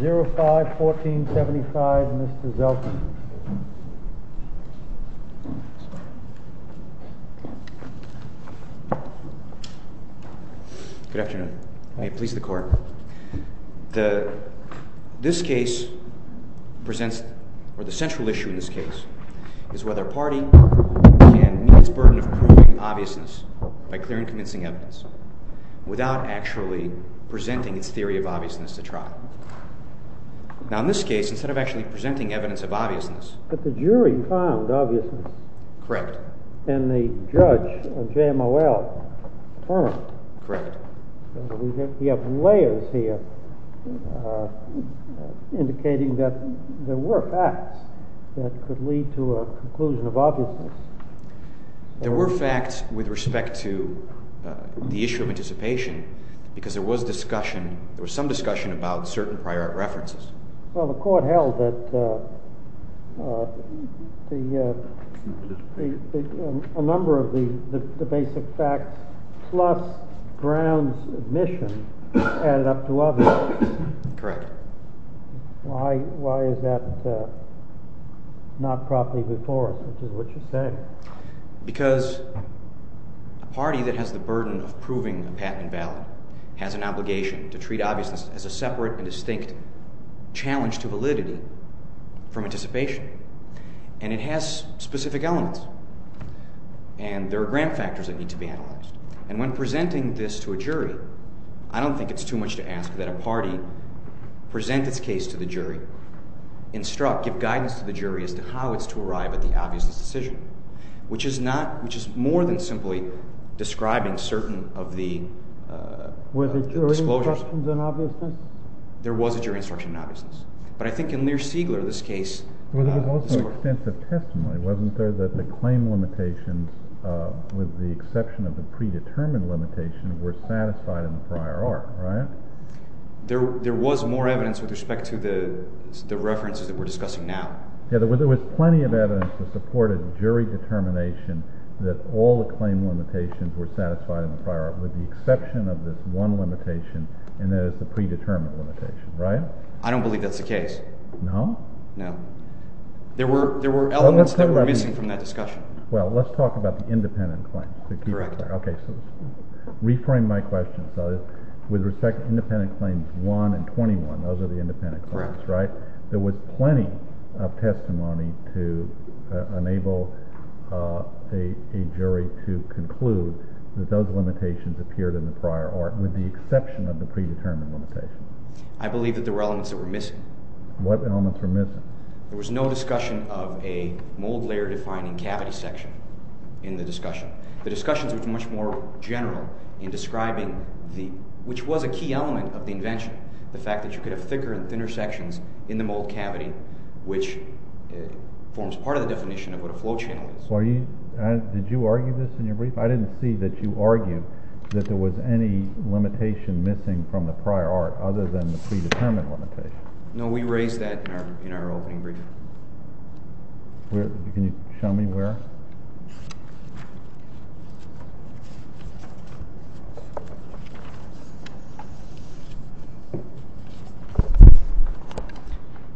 05-1475, Mr. Zeltsman Good afternoon, may it please the court? This case presents, or the central issue in this case, is whether a party can meet its burden of proving obviousness by clear and convincing evidence without actually presenting its theory of obviousness to trial. Now in this case, instead of actually presenting evidence of obviousness But the jury found obviousness Correct And the judge, JMOL, affirmed Correct We have layers here indicating that there were facts that could lead to a conclusion of obviousness There were facts with respect to the issue of anticipation because there was discussion, there was some discussion about certain prior references Well, the court held that a number of the basic facts plus grounds of admission added up to obviousness Correct Why is that not properly before us, is what you say Because a party that has the burden of proving a patent and valid has an obligation to treat obviousness as a separate and distinct challenge to validity from anticipation And it has specific elements and there are ground factors that need to be analyzed And when presenting this to a jury, I don't think it's too much to ask that a party present its case to the jury, instruct, give guidance to the jury as to how it's to arrive at the obviousness decision Which is not, which is more than simply describing certain of the Were there jury instructions in obviousness? There was a jury instruction in obviousness But I think in Lear-Siegler, this case Well, there was also extensive testimony, wasn't there, that the claim limitations with the exception of the predetermined limitation were satisfied in the prior art, right? There was more evidence with respect to the references that we're discussing now Yeah, there was plenty of evidence to support a jury determination that all the claim limitations were satisfied in the prior art with the exception of this one limitation and that is the predetermined limitation, right? I don't believe that's the case No? No There were elements that were missing from that discussion Well, let's talk about the independent claims Correct Okay, so reframe my question, so with respect to independent claims 1 and 21, those are the independent claims, right? There was plenty of testimony to enable a jury to conclude that those limitations appeared in the prior art with the exception of the predetermined limitation I believe that there were elements that were missing What elements were missing? There was no discussion of a mold layer defining cavity section in the discussion The discussion was much more general in describing, which was a key element of the invention, the fact that you could have thicker and thinner sections in the mold cavity, which forms part of the definition of what a flow channel is Did you argue this in your brief? I didn't see that you argued that there was any limitation missing from the prior art other than the predetermined limitation No, we raised that in our opening brief Can you show me where?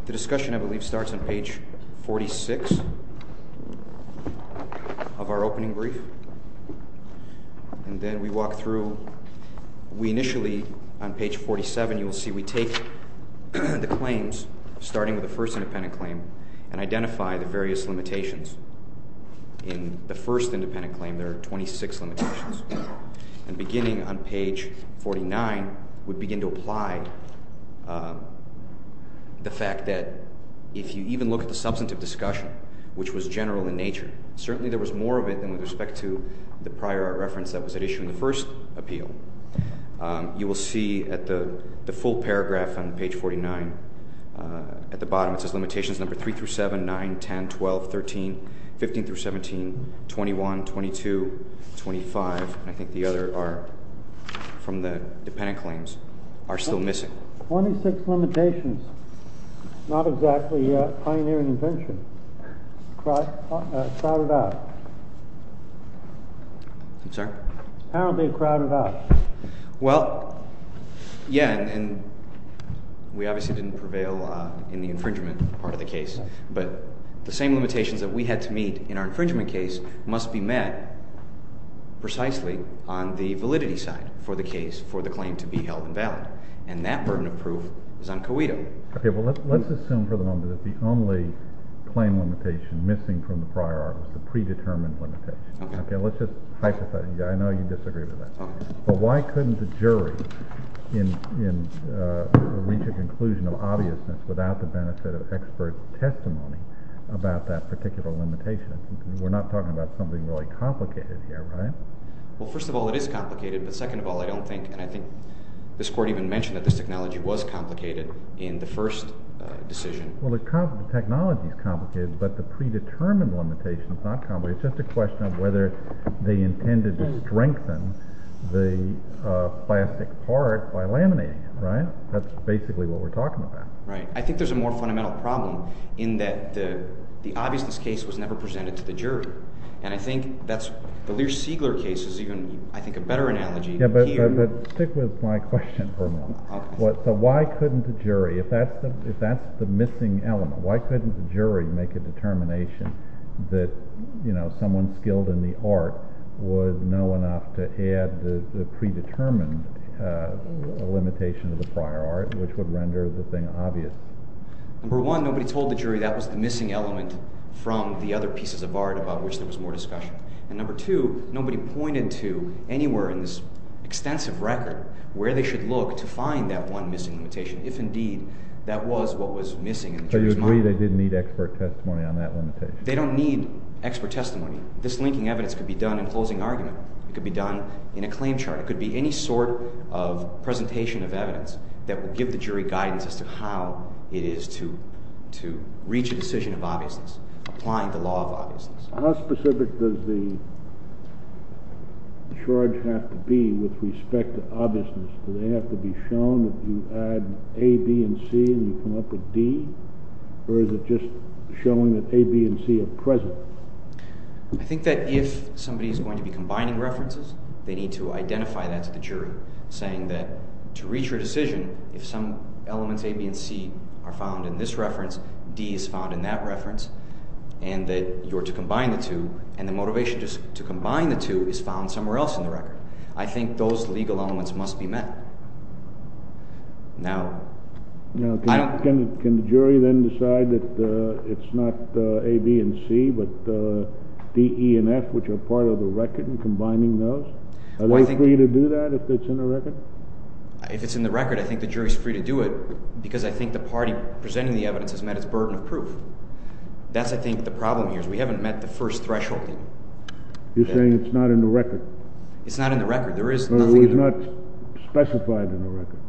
The discussion, I believe, starts on page 46 of our opening brief And then we walk through, we initially, on page 47, you will see we take the claims, starting with the first independent claim, and identify the various limitations In the first independent claim, there are 26 limitations And beginning on page 49, we begin to apply the fact that if you even look at the substantive discussion, which was general in nature, certainly there was more of it than with respect to the prior art reference that was at issue in the first appeal You will see at the full paragraph on page 49, at the bottom, it says limitations number 3-7, 9, 10, 12, 13, 15-17, 21, 22, 25, and I think the other are from the dependent claims, are still missing 26 limitations, not exactly pioneering invention, crowded out I'm sorry? Apparently crowded out Well, yeah, and we obviously didn't prevail in the infringement part of the case But the same limitations that we had to meet in our infringement case must be met precisely on the validity side for the case, for the claim to be held invalid And that burden of proof is on COITO Okay, well let's assume for the moment that it's the only claim limitation missing from the prior art, the predetermined limitation Okay Okay, let's just hypothesize, I know you disagree with that Okay But why couldn't the jury reach a conclusion of obviousness without the benefit of expert testimony about that particular limitation? We're not talking about something really complicated here, right? Well, first of all, it is complicated, but second of all, I don't think, and I think this Court even mentioned that this technology was complicated in the first decision Well, the technology is complicated, but the predetermined limitation is not complicated It's just a question of whether they intended to strengthen the plastic part by laminating it, right? That's basically what we're talking about Right, I think there's a more fundamental problem in that the obviousness case was never presented to the jury And I think that's, the Lear-Siegler case is even, I think, a better analogy Yeah, but stick with my question for a moment So why couldn't the jury, if that's the missing element, why couldn't the jury make a determination that someone skilled in the art would know enough to add the predetermined limitation to the prior art, which would render the thing obvious? Number one, nobody told the jury that was the missing element from the other pieces of art about which there was more discussion And number two, nobody pointed to anywhere in this extensive record where they should look to find that one missing limitation, if indeed that was what was missing in the jury's mind So you agree they didn't need expert testimony on that limitation? They don't need expert testimony This linking evidence could be done in closing argument, it could be done in a claim chart, it could be any sort of presentation of evidence that will give the jury guidance as to how it is to reach a decision of obviousness, applying the law of obviousness How specific does the charge have to be with respect to obviousness? Do they have to be shown that you add A, B, and C and you come up with D? Or is it just showing that A, B, and C are present? I think that if somebody is going to be combining references, they need to identify that to the jury, saying that to reach your decision, if some elements A, B, and C are found in this reference, D is found in that reference, and that you're to combine the two, and the motivation to combine the two is found somewhere else in the record I think those legal elements must be met Can the jury then decide that it's not A, B, and C, but D, E, and F, which are part of the record, and combining those? Are they free to do that if it's in the record? If it's in the record, I think the jury is free to do it, because I think the party presenting the evidence has met its burden of proof That's, I think, the problem here, is we haven't met the first threshold You're saying it's not in the record? It's not in the record Well, it was not specified in the record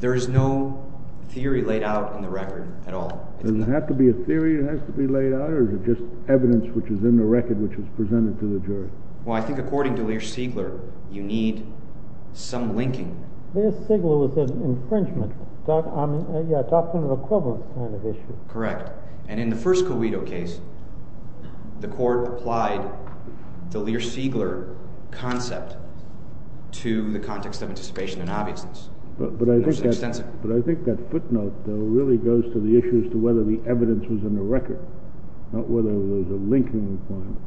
There is no theory laid out in the record at all Does it have to be a theory that has to be laid out, or is it just evidence which is in the record which is presented to the jury? Well, I think according to Lear-Siegler, you need some linking Lear-Siegler was an infringement, a doctrine of equivalence kind of issue Correct. And in the first Covito case, the court applied the Lear-Siegler concept to the context of anticipation and obviousness But I think that footnote, though, really goes to the issue as to whether the evidence was in the record, not whether there was a linking requirement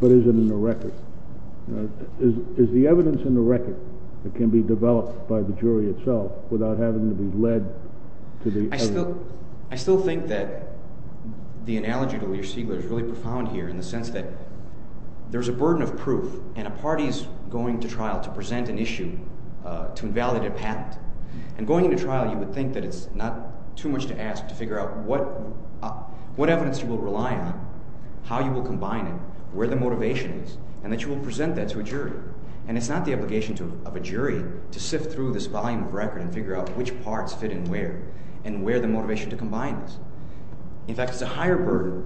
But is it in the record? Is the evidence in the record that can be developed by the jury itself without having to be led to the evidence? I still think that the analogy to Lear-Siegler is really profound here in the sense that there's a burden of proof And a party is going to trial to present an issue to invalidate a patent And going to trial, you would think that it's not too much to ask to figure out what evidence you will rely on, how you will combine it, where the motivation is And that you will present that to a jury And it's not the obligation of a jury to sift through this volume of record and figure out which parts fit in where And where the motivation to combine is In fact, it's a higher burden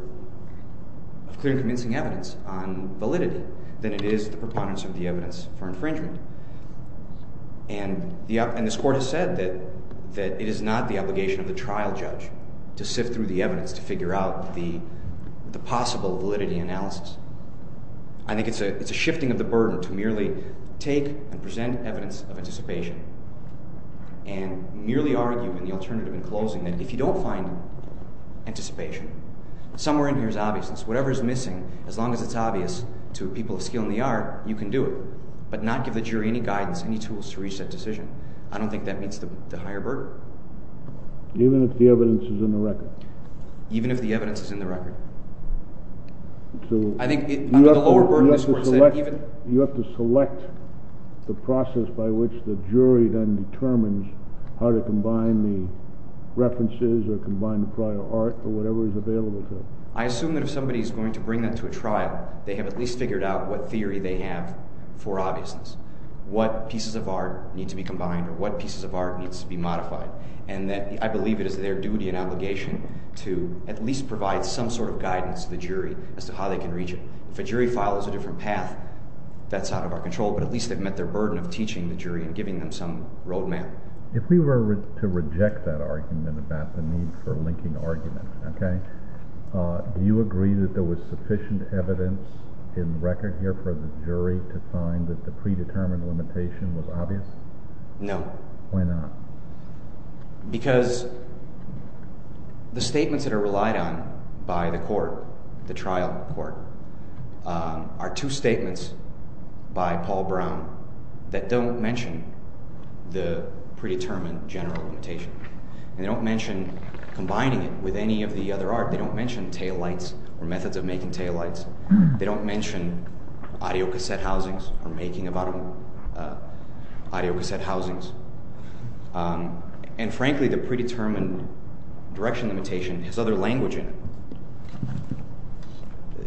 of clear and convincing evidence on validity than it is the preponderance of the evidence for infringement And this court has said that it is not the obligation of the trial judge to sift through the evidence to figure out the possible validity analysis I think it's a shifting of the burden to merely take and present evidence of anticipation And merely argue in the alternative in closing that if you don't find anticipation, somewhere in here is obviousness Whatever is missing, as long as it's obvious to people of skill in the art, you can do it But not give the jury any guidance, any tools to reach that decision I don't think that meets the higher burden Even if the evidence is in the record? Even if the evidence is in the record You have to select the process by which the jury then determines how to combine the references or combine the prior art or whatever is available to it I assume that if somebody is going to bring that to a trial, they have at least figured out what theory they have for obviousness What pieces of art need to be combined or what pieces of art need to be modified I believe it is their duty and obligation to at least provide some sort of guidance to the jury as to how they can reach it If a jury follows a different path, that's out of our control But at least they've met their burden of teaching the jury and giving them some road map If we were to reject that argument about the need for linking arguments Do you agree that there was sufficient evidence in record here for the jury to find that the predetermined limitation was obvious? No Why not? Because the statements that are relied on by the court, the trial court Are two statements by Paul Brown that don't mention the predetermined general limitation They don't mention combining it with any of the other art They don't mention taillights or methods of making taillights They don't mention audio cassette housings or making of audio cassette housings And frankly the predetermined direction limitation has other language in it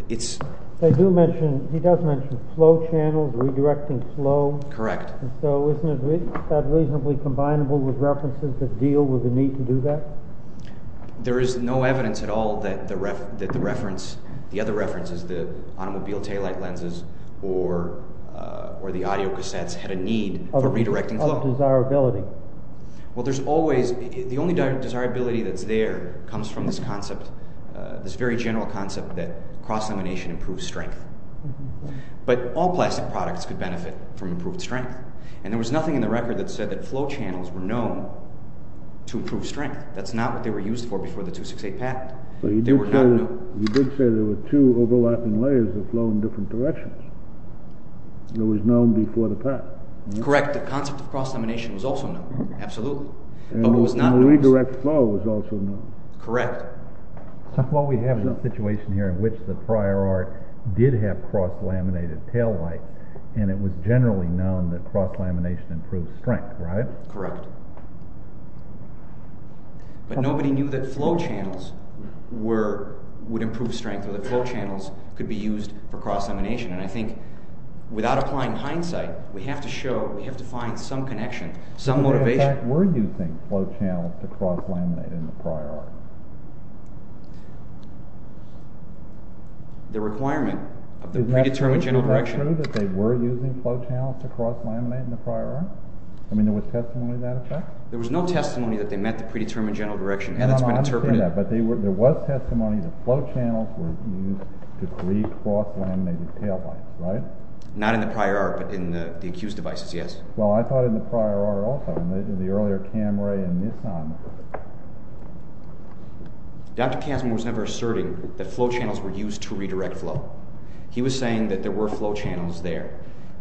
He does mention slow channels, redirecting flow Correct So isn't that reasonably combinable with references that deal with the need to do that? There is no evidence at all that the reference, the other references The automobile taillight lenses or the audio cassettes had a need for redirecting flow Of desirability Well there's always, the only desirability that's there comes from this concept This very general concept that cross elimination improves strength But all plastic products could benefit from improved strength And there was nothing in the record that said that flow channels were known to improve strength That's not what they were used for before the 268 patent But you did say there were two overlapping layers that flow in different directions It was known before the patent Correct, the concept of cross elimination was also known, absolutely And the redirect flow was also known Correct What we have is a situation here in which the prior art did have cross laminated taillights And it was generally known that cross lamination improves strength, right? Correct But nobody knew that flow channels would improve strength Or that flow channels could be used for cross elimination And I think, without applying hindsight, we have to show, we have to find some connection, some motivation In fact, we're using flow channels to cross laminate in the prior art The requirement of the predetermined general direction Is it true that they were using flow channels to cross laminate in the prior art? I mean, there was testimony of that effect? There was no testimony that they met the predetermined general direction No, no, I understand that But there was testimony that flow channels were used to create cross laminated taillights, right? Not in the prior art, but in the accused devices, yes Well, I thought in the prior art also In the earlier Camry and Nissan Dr. Kazma was never asserting that flow channels were used to redirect flow He was saying that there were flow channels there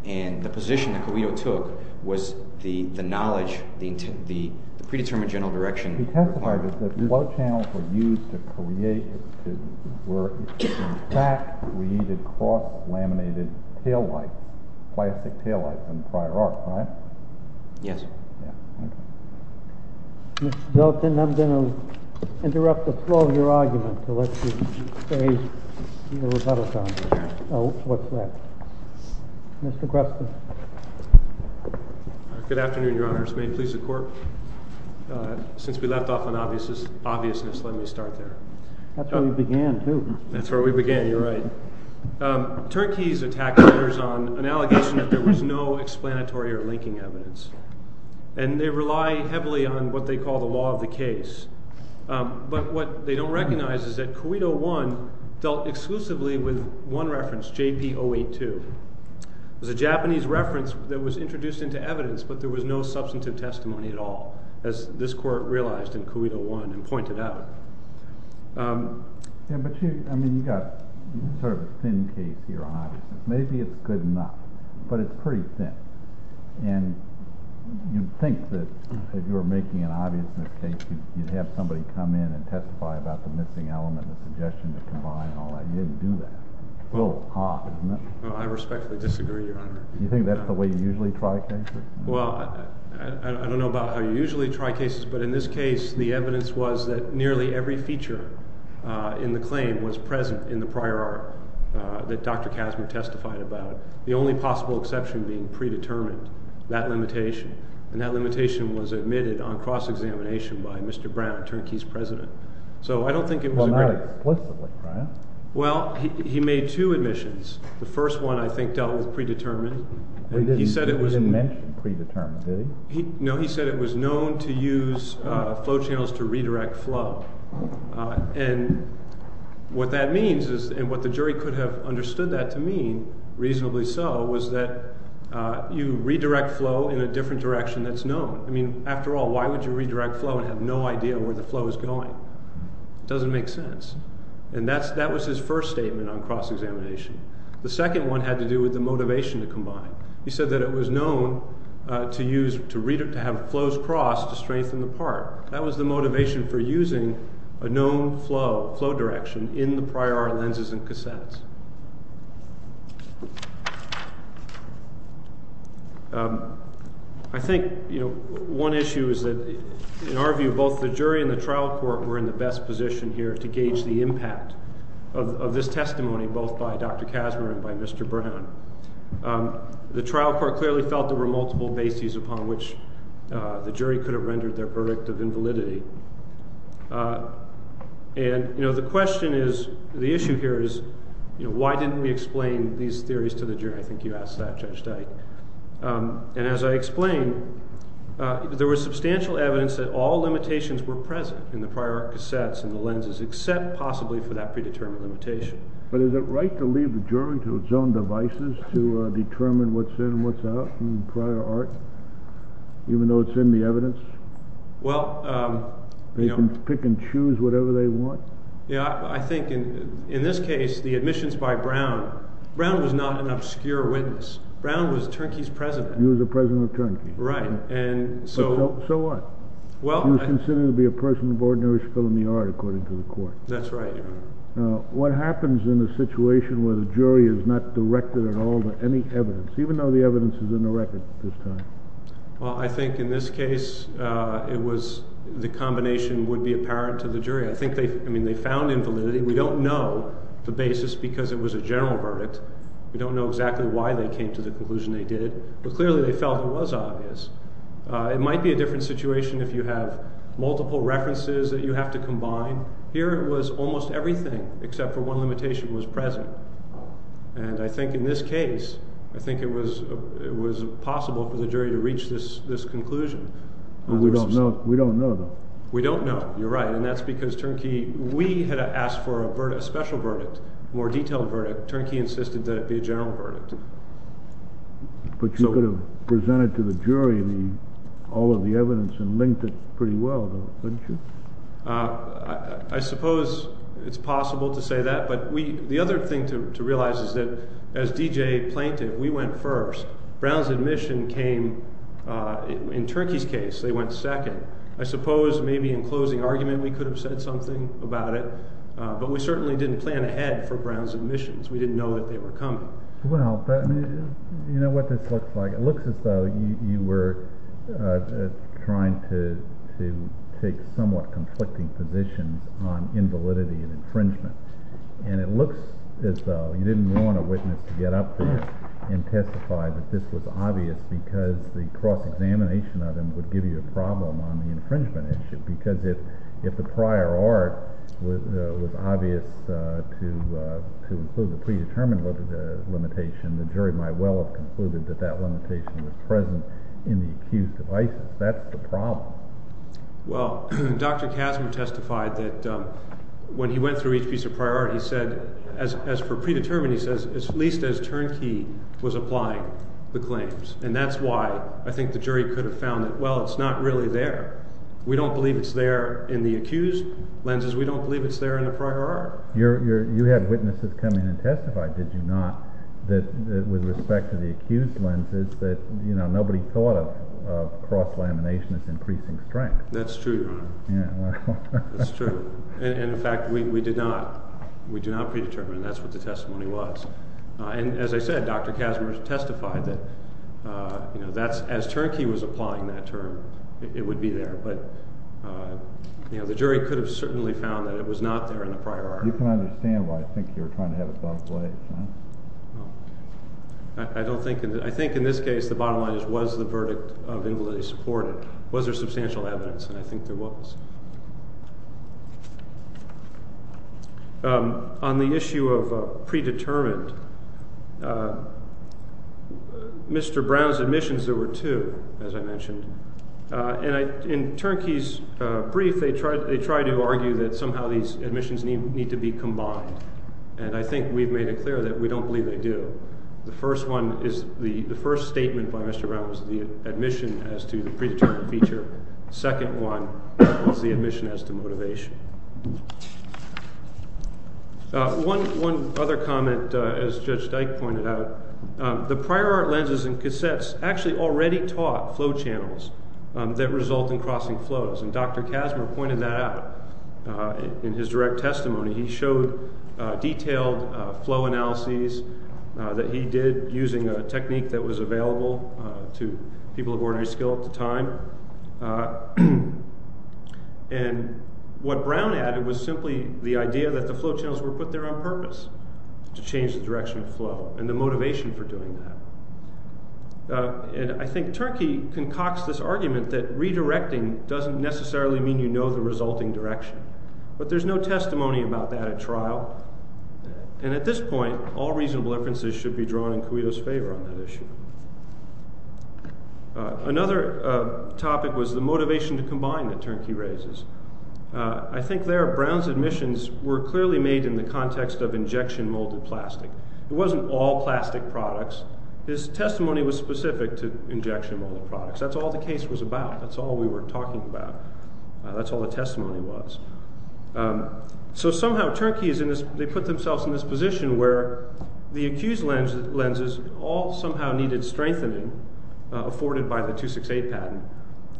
And the position that Carrillo took was the knowledge, the predetermined general direction He testified that flow channels were used to create, in fact, we needed cross laminated taillights Plastic taillights in the prior art, right? Yes Mr. Billiton, I'm going to interrupt the flow of your argument to let you say your rebuttal comments Oh, what's that? Mr. Creston Good afternoon, your honors May it please the court Since we left off on obviousness, let me start there That's where we began, too That's where we began, you're right Turkeys attack letters on an allegation that there was no explanatory or linking evidence And they rely heavily on what they call the law of the case But what they don't recognize is that Cuito I dealt exclusively with one reference, JP-082 It was a Japanese reference that was introduced into evidence, but there was no substantive testimony at all As this court realized in Cuito I and pointed out Yeah, but you've got sort of a thin case here on obviousness Maybe it's good enough, but it's pretty thin And you'd think that if you were making an obviousness case, you'd have somebody come in and testify about the missing element The suggestion that combined all that, you didn't do that It's a little off, isn't it? I respectfully disagree, your honor You think that's the way you usually try cases? Well, I don't know about how you usually try cases But in this case, the evidence was that nearly every feature in the claim was present in the prior art That Dr. Kazner testified about The only possible exception being predetermined, that limitation And that limitation was admitted on cross-examination by Mr. Brown, Turkeys' president So I don't think it was a great... Well, not exclusively, Brian Well, he made two admissions The first one, I think, dealt with predetermined He didn't mention predetermined, did he? No, he said it was known to use flow channels to redirect flow And what that means, and what the jury could have understood that to mean, reasonably so Was that you redirect flow in a different direction that's known I mean, after all, why would you redirect flow and have no idea where the flow is going? It doesn't make sense And that was his first statement on cross-examination The second one had to do with the motivation to combine He said that it was known to have flows crossed to strengthen the part That was the motivation for using a known flow direction in the prior art lenses and cassettes I think one issue is that, in our view, both the jury and the trial court were in the best position here To gauge the impact of this testimony, both by Dr. Casmer and by Mr. Brown The trial court clearly felt there were multiple bases upon which the jury could have rendered their verdict of invalidity And the question is, the issue here is, why didn't we explain these theories to the jury? I think you asked that, Judge Dyke And as I explained, there was substantial evidence that all limitations were present In the prior art cassettes and the lenses, except possibly for that predetermined limitation But is it right to leave the jury to its own devices to determine what's in and what's out in prior art? Even though it's in the evidence? Well, you know They can pick and choose whatever they want? Yeah, I think in this case, the admissions by Brown Brown was not an obscure witness Brown was Turnkey's president He was the president of Turnkey Right, and so So what? Well He was considered to be a person of ordinary film yard, according to the court That's right Now, what happens in a situation where the jury is not directed at all to any evidence Even though the evidence is in the record at this time? Well, I think in this case, it was The combination would be apparent to the jury I think they, I mean, they found invalidity We don't know the basis because it was a general verdict We don't know exactly why they came to the conclusion they did it But clearly they felt it was obvious It might be a different situation if you have multiple references that you have to combine Here it was almost everything except for one limitation was present And I think in this case, I think it was possible for the jury to reach this conclusion We don't know though We don't know, you're right And that's because Turnkey, we had asked for a special verdict More detailed verdict Turnkey insisted that it be a general verdict But you could have presented to the jury all of the evidence and linked it pretty well though, couldn't you? I suppose it's possible to say that But the other thing to realize is that as D.J. plaintiff, we went first Brown's admission came, in Turnkey's case, they went second I suppose maybe in closing argument we could have said something about it But we certainly didn't plan ahead for Brown's admissions We didn't know that they were coming Well, you know what this looks like It looks as though you were trying to take somewhat conflicting positions on invalidity and infringement And it looks as though you didn't want a witness to get up there and testify that this was obvious Because the cross-examination of them would give you a problem on the infringement issue Because if the prior art was obvious to include the predetermined limitation The jury might well have concluded that that limitation was present in the accused of ISIS That's the problem Well, Dr. Kazim testified that when he went through each piece of prior art He said, as for predetermined, he says, at least as Turnkey was applying the claims And that's why I think the jury could have found that, well, it's not really there We don't believe it's there in the accused lenses We don't believe it's there in the prior art You had witnesses come in and testify, did you not, that with respect to the accused lenses That, you know, nobody thought of cross-lamination as increasing strength That's true, Your Honor Yeah, well That's true And, in fact, we did not predetermine that's what the testimony was And, as I said, Dr. Kazim testified that, you know, that's As Turnkey was applying that term, it would be there But, you know, the jury could have certainly found that it was not there in the prior art You can understand why I think you're trying to have it both ways, right? No I don't think I think in this case the bottom line is, was the verdict of invalidity supported? Was there substantial evidence? And I think there was On the issue of predetermined Mr. Brown's admissions, there were two, as I mentioned And in Turnkey's brief, they tried to argue that somehow these admissions need to be combined And I think we've made it clear that we don't believe they do The first one is, the first statement by Mr. Brown was the admission as to the predetermined feature The second one was the admission as to motivation One other comment, as Judge Dyke pointed out The prior art lenses and cassettes actually already taught flow channels that result in crossing flows And Dr. Kazim pointed that out in his direct testimony He showed detailed flow analyses that he did using a technique that was available to people of ordinary skill at the time And what Brown added was simply the idea that the flow channels were put there on purpose To change the direction of flow and the motivation for doing that And I think Turnkey concocts this argument that redirecting doesn't necessarily mean you know the resulting direction But there's no testimony about that at trial And at this point, all reasonable inferences should be drawn in Cuito's favor on that issue Another topic was the motivation to combine that Turnkey raises I think there, Brown's admissions were clearly made in the context of injection molded plastic It wasn't all plastic products His testimony was specific to injection molded products That's all the case was about, that's all we were talking about That's all the testimony was So somehow Turnkey put themselves in this position where the accused lenses all somehow needed strengthening Afforded by the 268 patent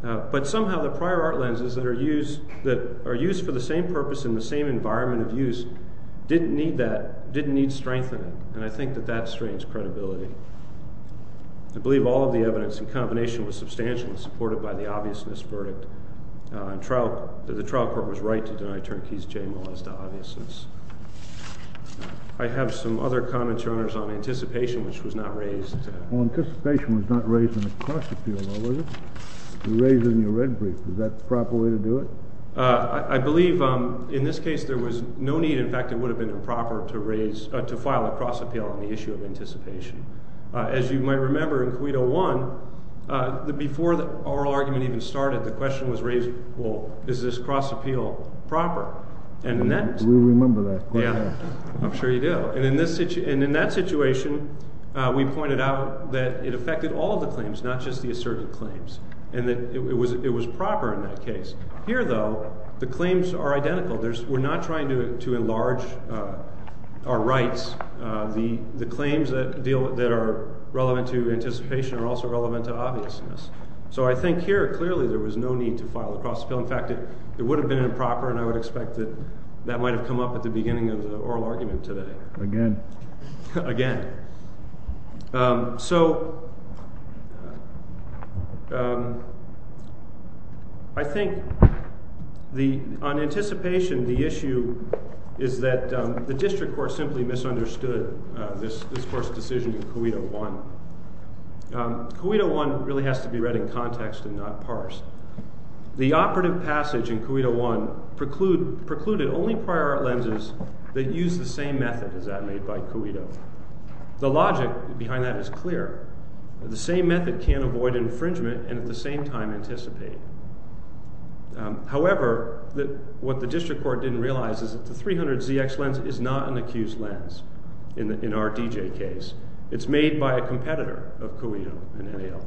But somehow the prior art lenses that are used for the same purpose in the same environment of use Didn't need that, didn't need strengthening And I think that that strains credibility I believe all of the evidence in combination was substantially supported by the obviousness verdict The trial court was right to deny Turnkey's J-Molesta obviousness I have some other comments, Your Honor, on anticipation, which was not raised Anticipation was not raised in the cross appeal, though, was it? You raised it in your red brief, is that the proper way to do it? I believe in this case there was no need, in fact it would have been improper to file a cross appeal on the issue of anticipation As you might remember in Cuito 1 Before the oral argument even started, the question was raised, well, is this cross appeal proper? We remember that quite well I'm sure you do And in that situation, we pointed out that it affected all of the claims, not just the asserted claims And that it was proper in that case Here, though, the claims are identical We're not trying to enlarge our rights The claims that are relevant to anticipation are also relevant to obviousness So I think here, clearly, there was no need to file a cross appeal In fact, it would have been improper, and I would expect that that might have come up at the beginning of the oral argument today Again Again So I think, on anticipation, the issue is that the district court simply misunderstood this court's decision in Cuito 1 Cuito 1 really has to be read in context and not parsed The operative passage in Cuito 1 precluded only prior art lenses that use the same method as that made by Cuito The logic behind that is clear The same method can avoid infringement and, at the same time, anticipate However, what the district court didn't realize is that the 300ZX lens is not an accused lens In our DJ case It's made by a competitor of Cuito and NAL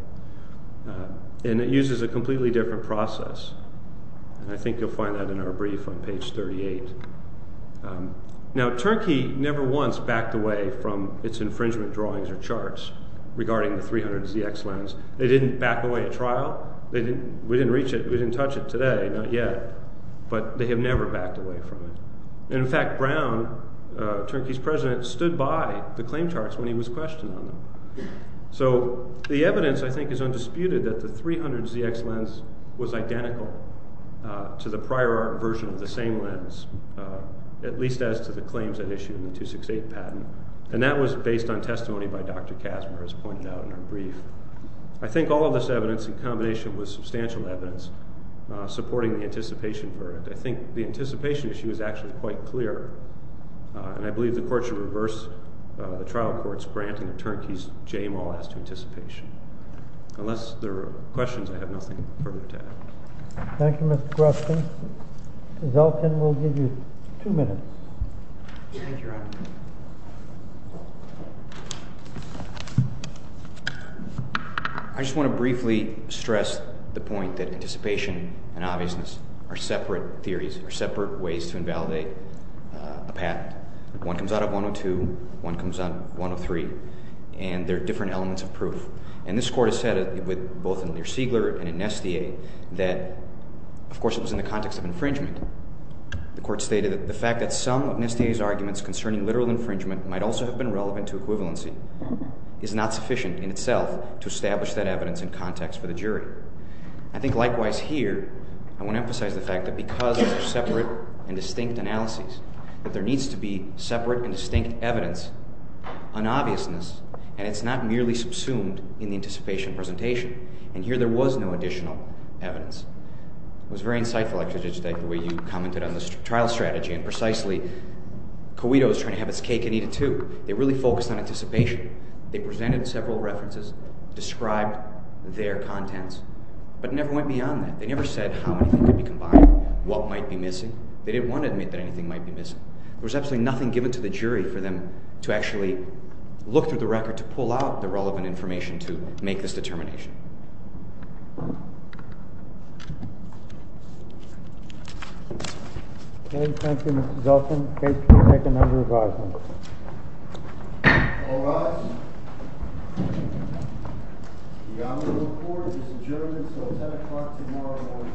And it uses a completely different process And I think you'll find that in our brief on page 38 Now, Turnkey never once backed away from its infringement drawings or charts Regarding the 300ZX lens They didn't back away at trial We didn't reach it, we didn't touch it today, not yet But they have never backed away from it In fact, Brown, Turnkey's president, stood by the claim charts when he was questioned on them So, the evidence, I think, is undisputed that the 300ZX lens was identical To the prior art version of the same lens At least as to the claims that issued in the 268 patent And that was based on testimony by Dr. Kazimer, as pointed out in our brief I think all of this evidence, in combination with substantial evidence, supporting the anticipation for it I think the anticipation issue is actually quite clear And I believe the court should reverse the trial court's granting of Turnkey's J-mall as to anticipation Unless there are questions, I have nothing further to add Thank you, Mr. Groskin Zelkin will give you two minutes Thank you, Your Honor I just want to briefly stress the point that anticipation and obviousness are separate theories They're separate ways to invalidate a patent One comes out of 102, one comes out of 103 And they're different elements of proof And this court has said, both in Lear-Siegler and in Nestea That, of course, it was in the context of infringement The court stated that the fact that some of Nestea's arguments concerning literal infringement Might also have been relevant to equivalency Is not sufficient in itself to establish that evidence in context for the jury I think likewise here, I want to emphasize the fact that because of separate and distinct analyses That there needs to be separate and distinct evidence There is an obviousness, and it's not merely subsumed in the anticipation presentation And here, there was no additional evidence It was very insightful, Dr. Giudice, the way you commented on the trial strategy And precisely, Coito is trying to have its cake and eat it too They really focused on anticipation They presented several references, described their contents But it never went beyond that They never said how anything could be combined, what might be missing They didn't want to admit that anything might be missing There was absolutely nothing given to the jury for them to actually look through the record To pull out the relevant information to make this determination Okay, thank you, Mr. Zoltan Case can take another five minutes All rise The honorable court is adjourned until 10 o'clock tomorrow morning Thank you